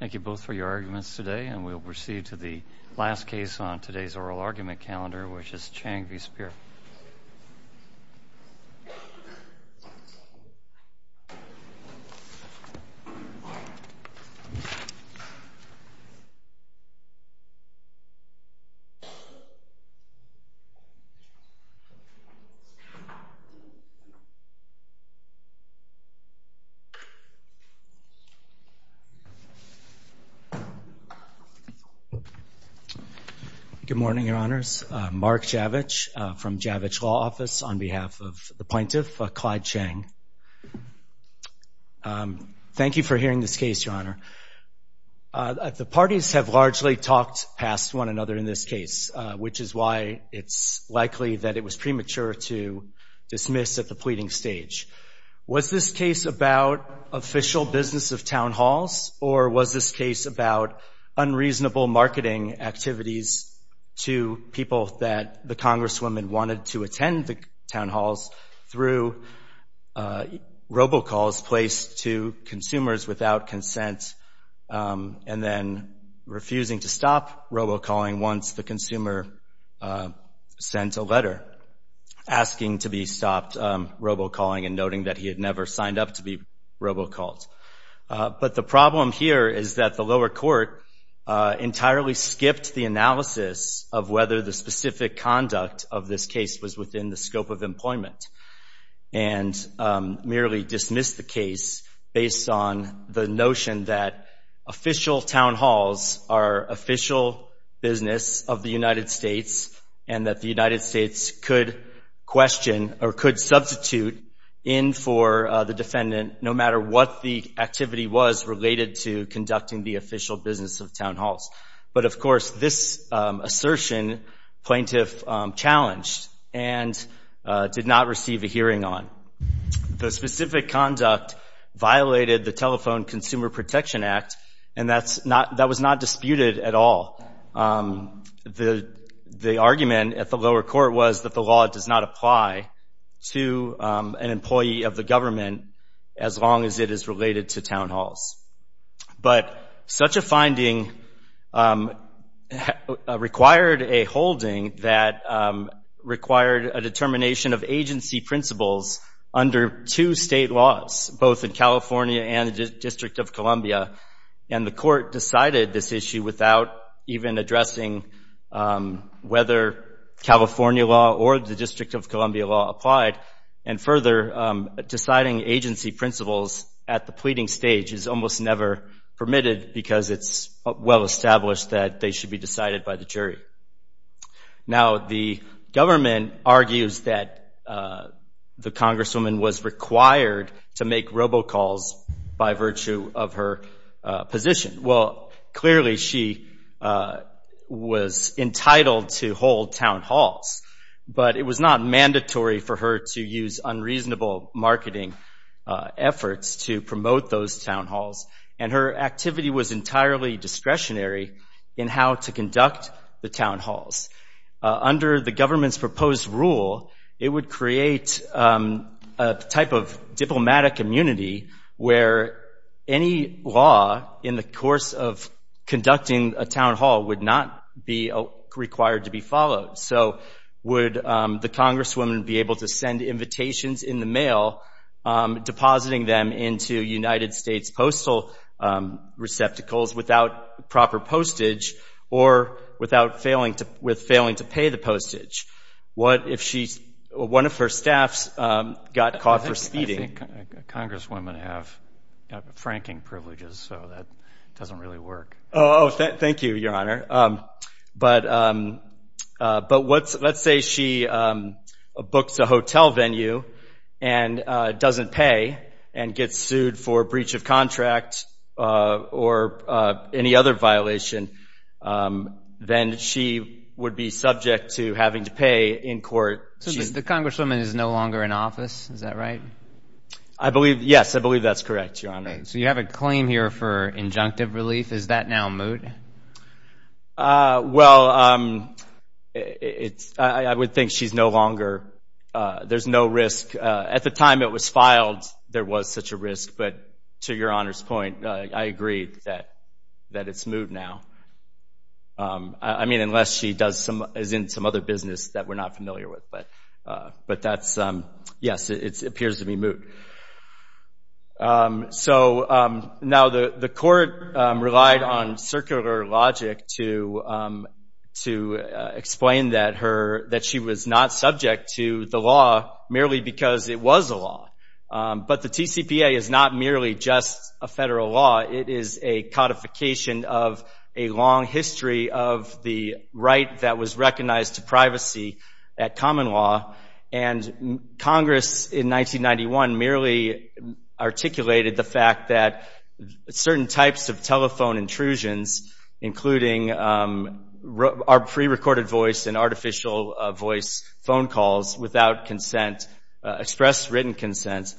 Thank you both for your arguments today, and we'll proceed to the last case on today's oral argument calendar, which is Cheng v. Speier. Good morning, Your Honors. Mark Javich from Javich Law Office on behalf of the plaintiff, Clyde Cheng. Thank you for hearing this case, Your Honor. The parties have largely talked past one another in this case, which is why it's likely that it was premature to dismiss at the pleading stage. Was this case about official business of town halls, or was this case about unreasonable marketing activities to people that the Congresswoman wanted to attend the town halls through robocalls placed to consumers without consent and then refusing to stop robocalling once the consumer sent a letter asking to be stopped robocalling and noting that he had never signed up to be robocalled? But the problem here is that the lower court entirely skipped the analysis of whether the specific conduct of this case was within the scope of employment and merely dismissed the case based on the notion that official town halls are official business of the United States and that the United States could question or could substitute in for the defendant no matter what the activity was related to conducting the official business of town halls. But, of course, this assertion plaintiff challenged and did not receive a hearing on. The specific conduct violated the Telephone Consumer Protection Act, and that was not disputed at all. The argument at the lower court was that the law does not apply to an employee of the government as long as it is related to town halls. But such a finding required a holding that required a determination of agency principles under two state laws, both in California and the District of Columbia. And the court decided this issue without even addressing whether California law or the District of Columbia law applied. And further, deciding agency principles at the pleading stage is almost never permitted because it's well established that they should be decided by the jury. Now, the government argues that the congresswoman was required to make robocalls by virtue of her position. Well, clearly she was entitled to hold town halls, but it was not mandatory for her to use unreasonable marketing efforts to promote those town halls. And her activity was entirely discretionary in how to conduct the town halls. Under the government's proposed rule, it would create a type of diplomatic immunity where any law in the course of conducting a town hall would not be required to be followed. So would the congresswoman be able to send invitations in the mail, depositing them into United States Postal Receptacles without proper postage or with failing to pay the postage? What if one of her staffs got caught for speeding? I think congresswomen have franking privileges, so that doesn't really work. Oh, thank you, Your Honor. But let's say she books a hotel venue and doesn't pay and gets sued for breach of contract or any other violation, then she would be subject to having to pay in court. So the congresswoman is no longer in office, is that right? Yes, I believe that's correct, Your Honor. Okay, so you have a claim here for injunctive relief, is that now moot? Well, I would think she's no longer – there's no risk. At the time it was filed, there was such a risk, but to Your Honor's point, I agree that it's moot now. I mean, unless she is in some other business that we're not familiar with, but that's – yes, it appears to be moot. So now the court relied on circular logic to explain that she was not subject to the law merely because it was a law. But the TCPA is not merely just a federal law. It is a codification of a long history of the right that was recognized to privacy at common law. And Congress in 1991 merely articulated the fact that certain types of telephone intrusions, including pre-recorded voice and artificial voice phone calls without consent, express written consent,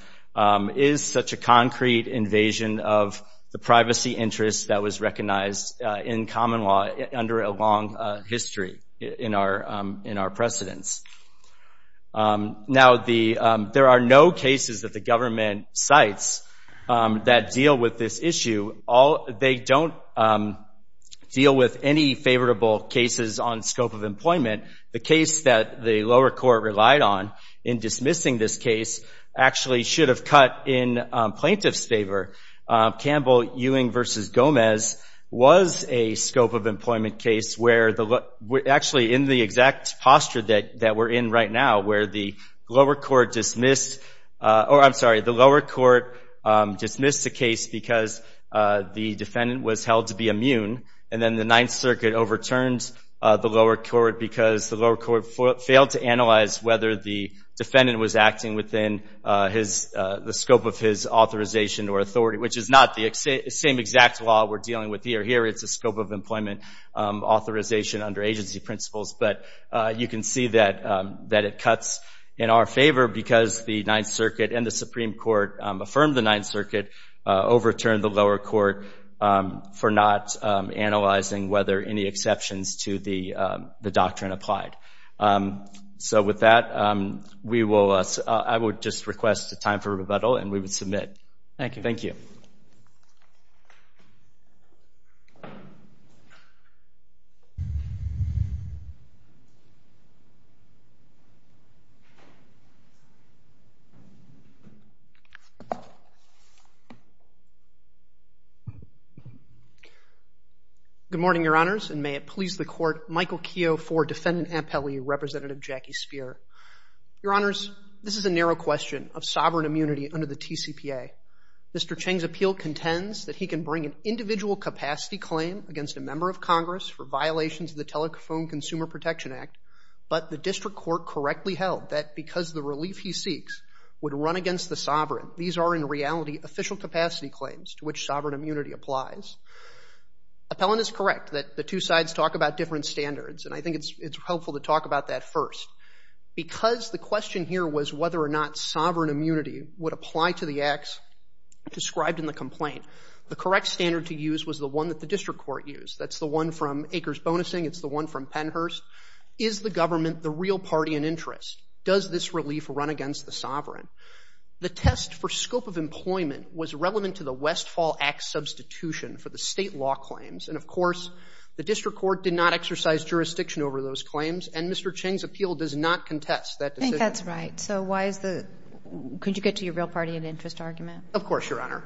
is such a concrete invasion of the privacy interest that was recognized in common law under a long history in our precedence. Now, there are no cases that the government cites that deal with this issue. They don't deal with any favorable cases on scope of employment. The case that the lower court relied on in dismissing this case actually should have cut in plaintiff's favor. Campbell-Ewing v. Gomez was a scope of employment case where the – actually in the exact posture that we're in right now, where the lower court dismissed – or I'm sorry, the lower court dismissed the case because the defendant was held to be immune, and then the Ninth Circuit overturned the lower court because the lower court failed to analyze whether the defendant was acting within the scope of his authorization or authority, which is not the same exact law we're dealing with here. Here, it's a scope of employment authorization under agency principles. But you can see that it cuts in our favor because the Ninth Circuit and the Supreme Court affirmed the Ninth Circuit, overturned the lower court for not analyzing whether any exceptions to the doctrine applied. So with that, we will – I would just request a time for rebuttal, and we would submit. Thank you. Good morning, Your Honors. And may it please the Court, Michael Keough for Defendant Ampelli, Representative Jackie Speier. Your Honors, this is a narrow question of sovereign immunity under the TCPA. Mr. Cheng's appeal contends that he can bring an individual capacity claim against a member of Congress for violations of the Telephone Consumer Protection Act, but the district court correctly held that because the relief he seeks would run against the sovereign. These are, in reality, official capacity claims to which sovereign immunity applies. Appellant is correct that the two sides talk about different standards, and I think it's helpful to talk about that first. Because the question here was whether or not sovereign immunity would apply to the acts described in the complaint, the correct standard to use was the one that the district court used. That's the one from Acres Bonusing. It's the one from Pennhurst. Is the government the real party in interest? Does this relief run against the sovereign? The test for scope of employment was relevant to the Westfall Act substitution for the state law claims, and, of course, the district court did not exercise jurisdiction over those claims, and Mr. Cheng's appeal does not contest that decision. I think that's right. So why is the – could you get to your real party in interest argument? Of course, Your Honor.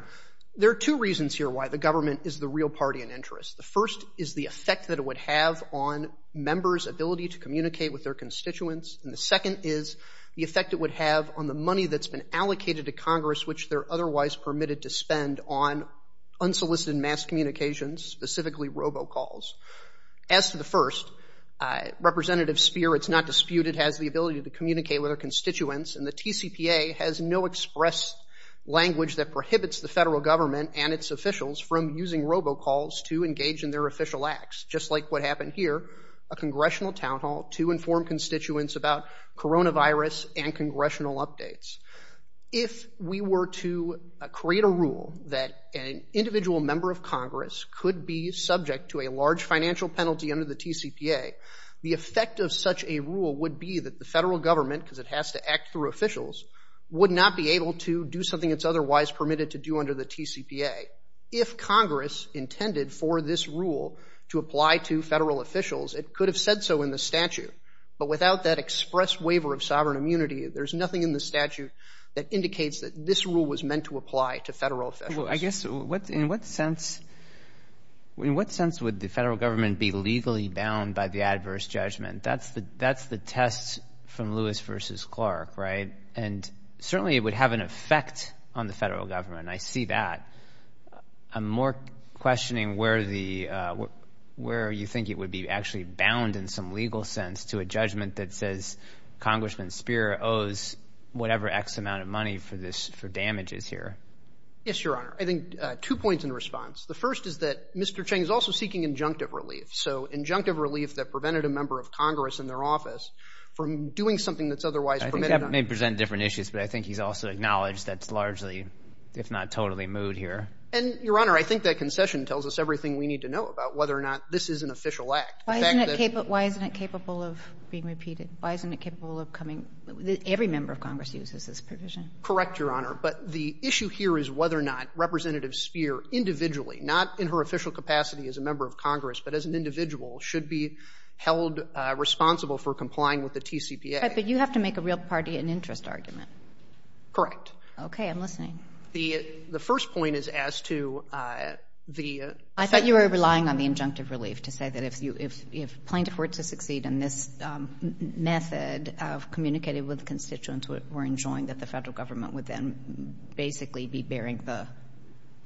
There are two reasons here why the government is the real party in interest. The first is the effect that it would have on members' ability to communicate with their constituents, and the second is the effect it would have on the money that's been allocated to Congress, which they're otherwise permitted to spend on unsolicited mass communications, specifically robocalls. As to the first, Representative Speer, it's not disputed, has the ability to communicate with her constituents, and the TCPA has no express language that prohibits the federal government and its officials from using robocalls to engage in their official acts, just like what happened here, a congressional town hall, to inform constituents about coronavirus and congressional updates. If we were to create a rule that an individual member of Congress could be subject to a large financial penalty under the TCPA, the effect of such a rule would be that the federal government, because it has to act through officials, would not be able to do something it's otherwise permitted to do under the TCPA. If Congress intended for this rule to apply to federal officials, it could have said so in the statute, but without that express waiver of sovereign immunity, there's nothing in the statute that indicates that this rule was meant to apply to federal officials. Well, I guess in what sense would the federal government be legally bound by the adverse judgment? That's the test from Lewis v. Clark, right? And certainly it would have an effect on the federal government. I see that. I'm more questioning where you think it would be actually bound in some legal sense to a judgment that says Congressman Speier owes whatever X amount of money for damages here. Yes, Your Honor. I think two points in response. The first is that Mr. Cheng is also seeking injunctive relief, so injunctive relief that prevented a member of Congress in their office from doing something that's otherwise permitted. That may present different issues, but I think he's also acknowledged that's largely, if not totally, moot here. And, Your Honor, I think that concession tells us everything we need to know about whether or not this is an official act. Why isn't it capable of being repeated? Why isn't it capable of coming? Every member of Congress uses this provision. Correct, Your Honor. But the issue here is whether or not Representative Speier individually, not in her official capacity as a member of Congress, but as an individual should be held responsible for complying with the TCPA. Okay. But you have to make a real party and interest argument. Correct. Okay. I'm listening. The first point is as to the Federal Government. I thought you were relying on the injunctive relief to say that if plaintiff were to succeed in this method of communicating with constituents who were enjoined, that the Federal Government would then basically be bearing the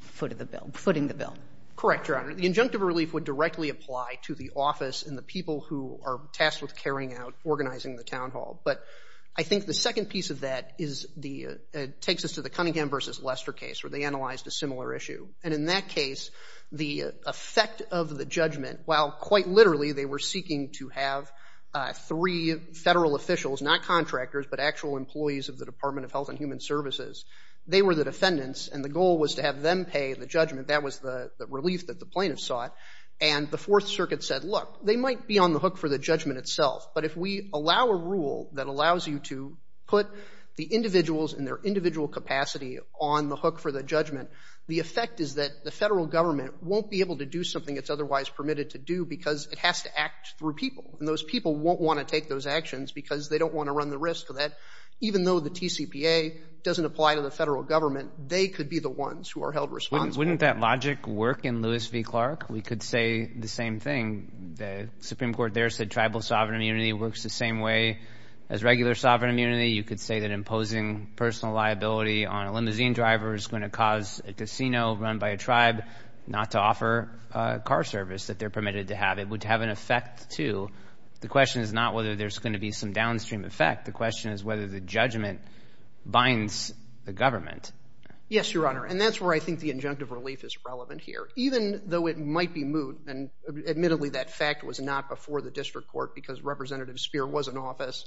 foot of the bill or footing the bill. Correct, Your Honor. The injunctive relief would directly apply to the office and the people who are tasked with carrying out, organizing the town hall. But I think the second piece of that is the, it takes us to the Cunningham versus Lester case where they analyzed a similar issue. And in that case, the effect of the judgment, while quite literally they were seeking to have three Federal officials, not contractors, but actual employees of the Department of Health and Human Services, they were the defendants. And the goal was to have them pay the judgment. That was the relief that the plaintiffs sought. And the Fourth Circuit said, look, they might be on the hook for the judgment itself. But if we allow a rule that allows you to put the individuals in their individual capacity on the hook for the judgment, the effect is that the Federal Government won't be able to do something it's otherwise permitted to do because it has to act through people. And those people won't want to take those actions because they don't want to run the risk of that. Even though the TCPA doesn't apply to the Federal Government, they could be the ones who are held responsible. Wouldn't that logic work in Lewis v. Clark? We could say the same thing. The Supreme Court there said tribal sovereign immunity works the same way as regular sovereign immunity. You could say that imposing personal liability on a limousine driver is going to cause a casino run by a tribe not to offer a car service that they're permitted to have. It would have an effect, too. The question is not whether there's going to be some downstream effect. The question is whether the judgment binds the government. Yes, Your Honor. And that's where I think the injunctive relief is relevant here. Even though it might be moot, and admittedly that fact was not before the district court because Representative Speer was in office,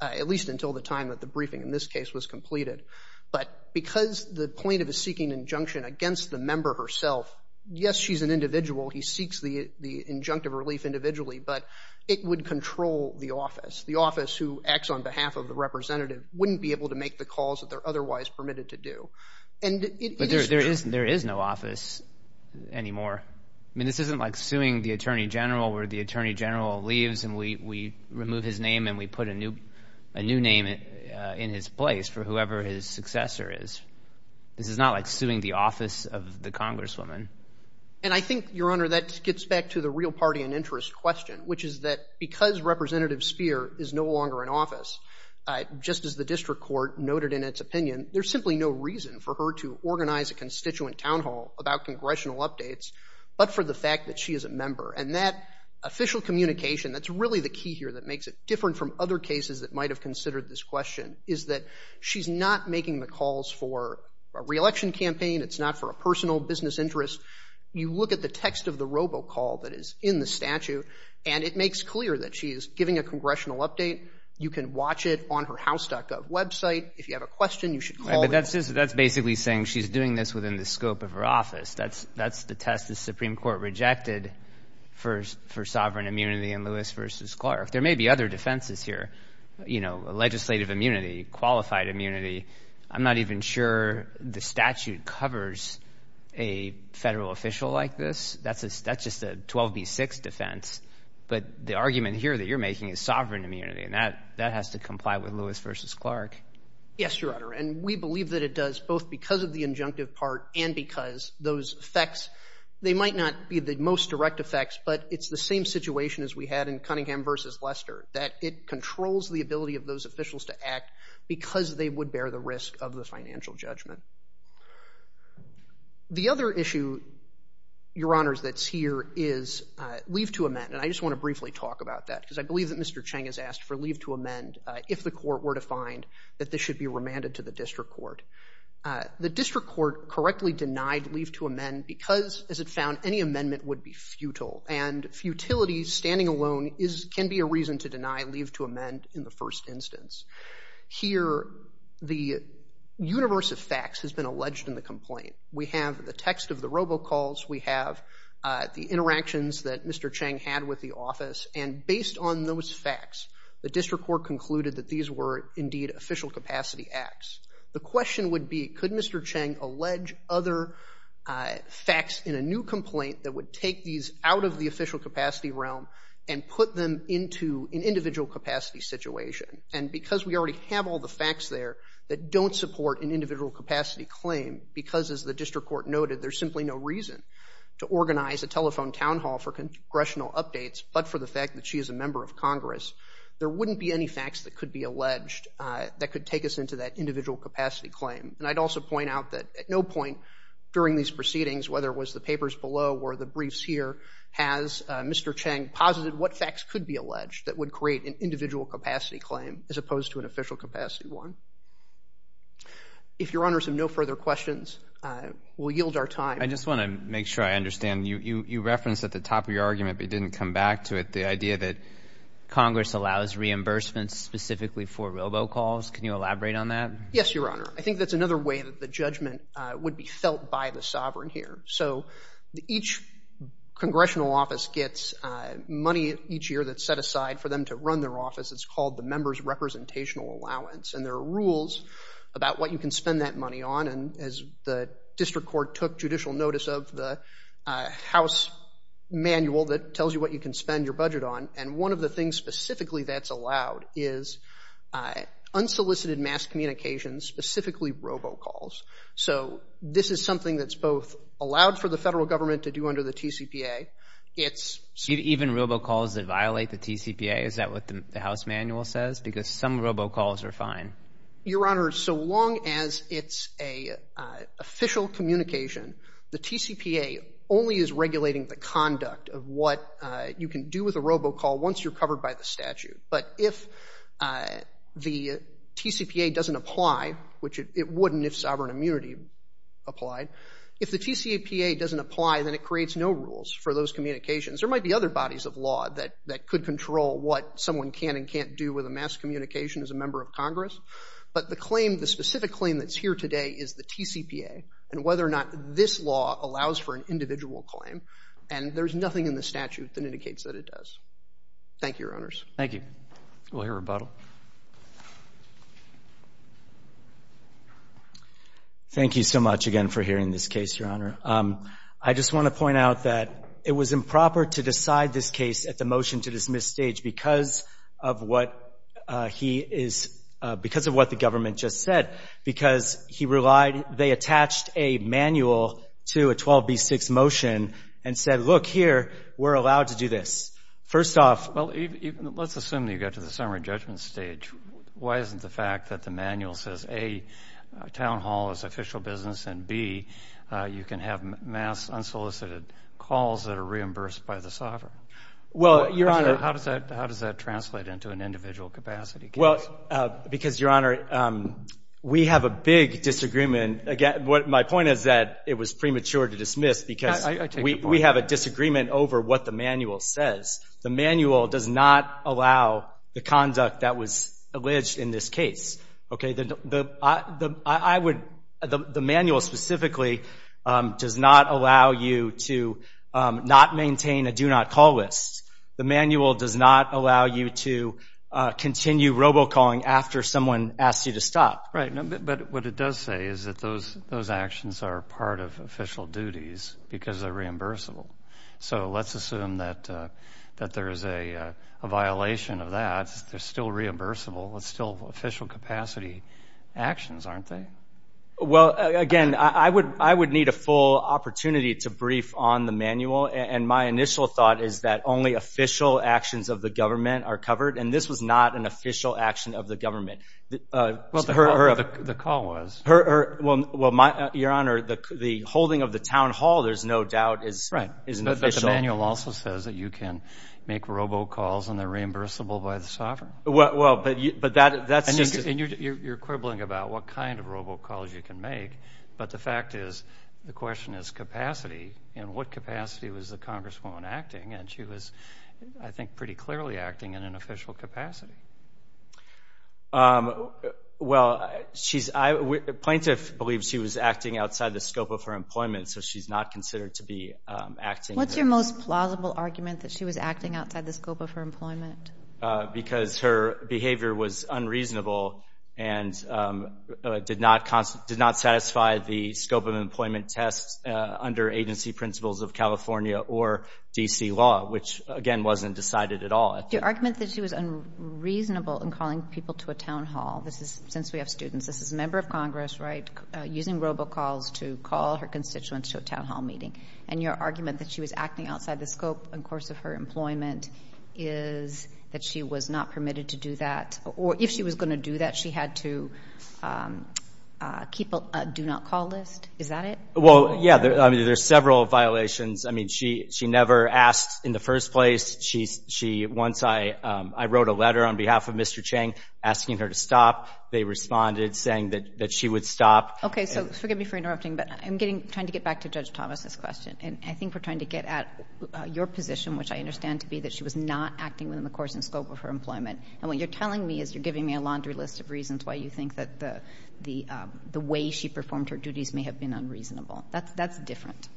at least until the time that the briefing in this case was completed. But because the plaintiff is seeking injunction against the member herself, yes, she's an individual. He seeks the injunctive relief individually. But it would control the office. The office who acts on behalf of the representative wouldn't be able to make the calls that they're otherwise permitted to do. But there is no office anymore. I mean, this isn't like suing the attorney general where the attorney general leaves and we remove his name and we put a new name in his place for whoever his successor is. This is not like suing the office of the congresswoman. And I think, Your Honor, that gets back to the real party and interest question, which is that because Representative Speer is no longer in office, just as the district court noted in its opinion, there's simply no reason for her to organize a constituent town hall about congressional updates but for the fact that she is a member. And that official communication, that's really the key here that makes it different from other cases that might have considered this question, is that she's not making the calls for a re-election campaign. It's not for a personal business interest. You look at the text of the robocall that is in the statute, and it makes clear that she is giving a congressional update. You can watch it on her house.gov website. If you have a question, you should call. But that's basically saying she's doing this within the scope of her office. That's the test the Supreme Court rejected for sovereign immunity in Lewis v. Clark. There may be other defenses here, you know, legislative immunity, qualified immunity. I'm not even sure the statute covers a federal official like this. That's just a 12B6 defense. But the argument here that you're making is sovereign immunity, and that has to comply with Lewis v. Clark. Yes, Your Honor, and we believe that it does, both because of the injunctive part and because those effects, they might not be the most direct effects, but it's the same situation as we had in Cunningham v. Lester, that it controls the ability of those officials to act because they would bear the risk of the financial judgment. The other issue, Your Honors, that's here is leave to amend. And I just want to briefly talk about that because I believe that Mr. Cheng has asked for leave to amend, if the court were to find that this should be remanded to the district court. The district court correctly denied leave to amend because, as it found, any amendment would be futile. And futility, standing alone, can be a reason to deny leave to amend in the first instance. Here, the universe of facts has been alleged in the complaint. We have the text of the robocalls. We have the interactions that Mr. Cheng had with the office. And based on those facts, the district court concluded that these were indeed official capacity acts. The question would be, could Mr. Cheng allege other facts in a new complaint that would take these out of the official capacity realm and put them into an individual capacity situation? And because we already have all the facts there that don't support an individual capacity claim because, as the district court noted, there's simply no reason to organize a telephone town hall for the fact that she is a member of Congress, there wouldn't be any facts that could be alleged that could take us into that individual capacity claim. And I'd also point out that at no point during these proceedings, whether it was the papers below or the briefs here, has Mr. Cheng posited what facts could be alleged that would create an individual capacity claim as opposed to an official capacity one. If Your Honors have no further questions, we'll yield our time. I just want to make sure I understand. You referenced at the top of your argument, but you didn't come back to it, the idea that Congress allows reimbursements specifically for robo calls. Can you elaborate on that? Yes, Your Honor. I think that's another way that the judgment would be felt by the sovereign here. So each congressional office gets money each year that's set aside for them to run their office. It's called the member's representational allowance. And there are rules about what you can spend that money on. And as the district court took judicial notice of the house manual that tells you what you can spend your budget on, and one of the things specifically that's allowed is unsolicited mass communications, specifically robo calls. So this is something that's both allowed for the federal government to do under the TCPA. Even robo calls that violate the TCPA? Is that what the house manual says? Because some robo calls are fine. Your Honor, so long as it's an official communication, the TCPA only is regulating the conduct of what you can do with a robo call once you're covered by the statute. But if the TCPA doesn't apply, which it wouldn't if sovereign immunity applied, if the TCPA doesn't apply, then it creates no rules for those communications. There might be other bodies of law that could control what someone can and can't do with a mass communication as a member of Congress. But the specific claim that's here today is the TCPA, and whether or not this law allows for an individual claim, and there's nothing in the statute that indicates that it does. Thank you, Your Honors. Thank you. We'll hear rebuttal. Thank you so much again for hearing this case, Your Honor. I just want to point out that it was improper to decide this case at the motion to dismiss stage because of what he is – because of what the government just said, because he relied – they attached a manual to a 12B6 motion and said, look, here, we're allowed to do this. First off – Well, let's assume that you got to the summary judgment stage. Why isn't the fact that the manual says, A, town hall is official business, and, B, you can have mass unsolicited calls that are reimbursed by the sovereign? Well, Your Honor – How does that – how does that translate into an individual capacity case? Well, because, Your Honor, we have a big disagreement. Again, my point is that it was premature to dismiss because we have a disagreement over what the manual says. The manual does not allow the conduct that was alleged in this case. Okay? The manual specifically does not allow you to not maintain a do-not-call list. The manual does not allow you to continue robocalling after someone asks you to stop. Right. But what it does say is that those actions are part of official duties because they're reimbursable. So let's assume that there is a violation of that. They're still reimbursable. It's still official capacity actions, aren't they? My initial thought is that only official actions of the government are covered, and this was not an official action of the government. Well, the call was. Well, Your Honor, the holding of the town hall, there's no doubt, is official. Right. But the manual also says that you can make robocalls, and they're reimbursable by the sovereign. Well, but that's just a – And you're quibbling about what kind of robocalls you can make, but the fact is the question is capacity. In what capacity was the congresswoman acting? And she was, I think, pretty clearly acting in an official capacity. Well, plaintiff believes she was acting outside the scope of her employment, so she's not considered to be acting. What's your most plausible argument that she was acting outside the scope of her employment? Because her behavior was unreasonable and did not satisfy the scope of employment test under agency principles of California or D.C. law, which, again, wasn't decided at all. Your argument that she was unreasonable in calling people to a town hall, since we have students, this is a member of Congress, right, using robocalls to call her constituents to a town hall meeting, and your argument that she was acting outside the scope and course of her employment is that she was not permitted to do that. Or if she was going to do that, she had to keep a do-not-call list. Is that it? Well, yeah. I mean, there's several violations. I mean, she never asked in the first place. Once I wrote a letter on behalf of Mr. Chang asking her to stop, they responded saying that she would stop. Okay, so forgive me for interrupting, but I'm trying to get back to Judge Thomas's question, and I think we're trying to get at your position, which I understand to be that she was not acting within the course and scope of her employment. And what you're telling me is you're giving me a laundry list of reasons why you think that the way she performed her duties may have been unreasonable. That's different.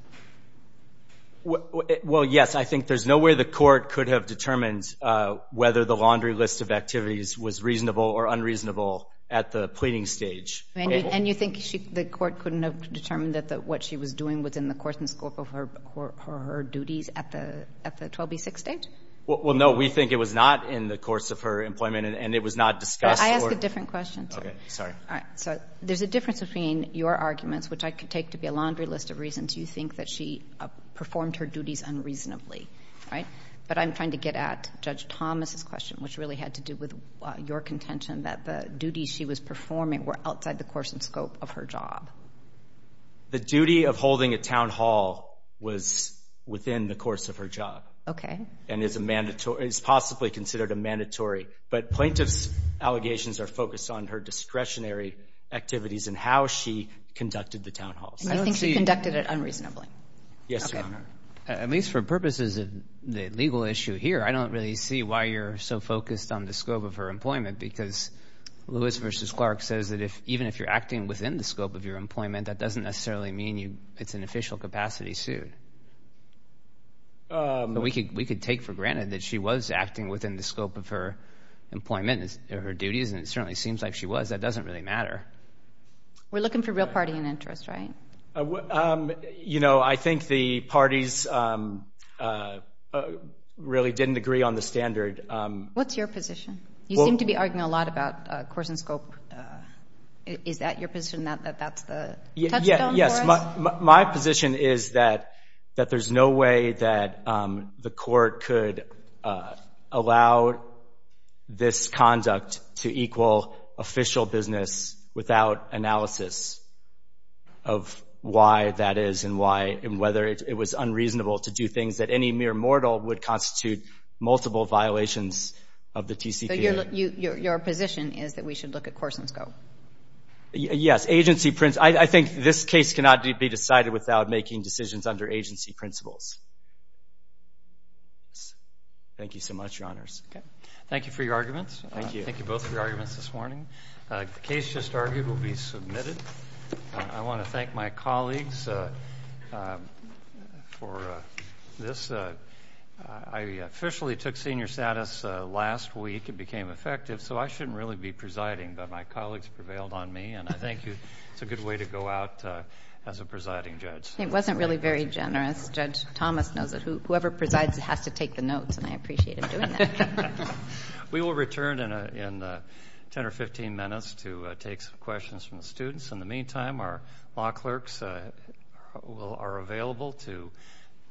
Well, yes, I think there's no way the court could have determined whether the laundry list of activities was reasonable or unreasonable at the pleading stage. And you think the court couldn't have determined that what she was doing was within the course and scope of her duties at the 12b6 stage? Well, no, we think it was not in the course of her employment, and it was not discussed. I asked a different question. Okay. Sorry. All right. So there's a difference between your arguments, which I could take to be a laundry list of reasons you think that she performed her duties unreasonably, right? But I'm trying to get at Judge Thomas's question, which really had to do with your contention that the duties she was performing were outside the course and scope of her job. The duty of holding a town hall was within the course of her job. Okay. And is possibly considered a mandatory. But plaintiff's allegations are focused on her discretionary activities and how she conducted the town halls. And you think she conducted it unreasonably? Yes, Your Honor. At least for purposes of the legal issue here, I don't really see why you're so focused on the scope of her employment, because Lewis versus Clark says that even if you're acting within the scope of your employment, that doesn't necessarily mean it's an official capacity suit. But we could take for granted that she was acting within the scope of her employment and her duties, and it certainly seems like she was. That doesn't really matter. We're looking for real party and interest, right? You know, I think the parties really didn't agree on the standard. What's your position? You seem to be arguing a lot about course and scope. Is that your position, that that's the touchstone for us? Yes. My position is that there's no way that the court could allow this conduct to equal official business without analysis of why that is and whether it was unreasonable to do things that any mere mortal would Your position is that we should look at course and scope? Yes. I think this case cannot be decided without making decisions under agency principles. Thank you so much, Your Honors. Thank you for your arguments. Thank you. Thank you both for your arguments this morning. The case just argued will be submitted. I want to thank my colleagues for this. I officially took senior status last week and became effective, so I shouldn't really be presiding, but my colleagues prevailed on me, and I thank you. It's a good way to go out as a presiding judge. It wasn't really very generous. Judge Thomas knows it. Whoever presides has to take the notes, and I appreciate him doing that. In the meantime, our law clerks are available to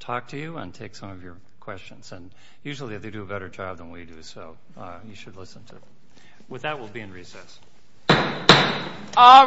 talk to you and take some of your questions, and usually they do a better job than we do, so you should listen to them. With that, we'll be in recess. All rise.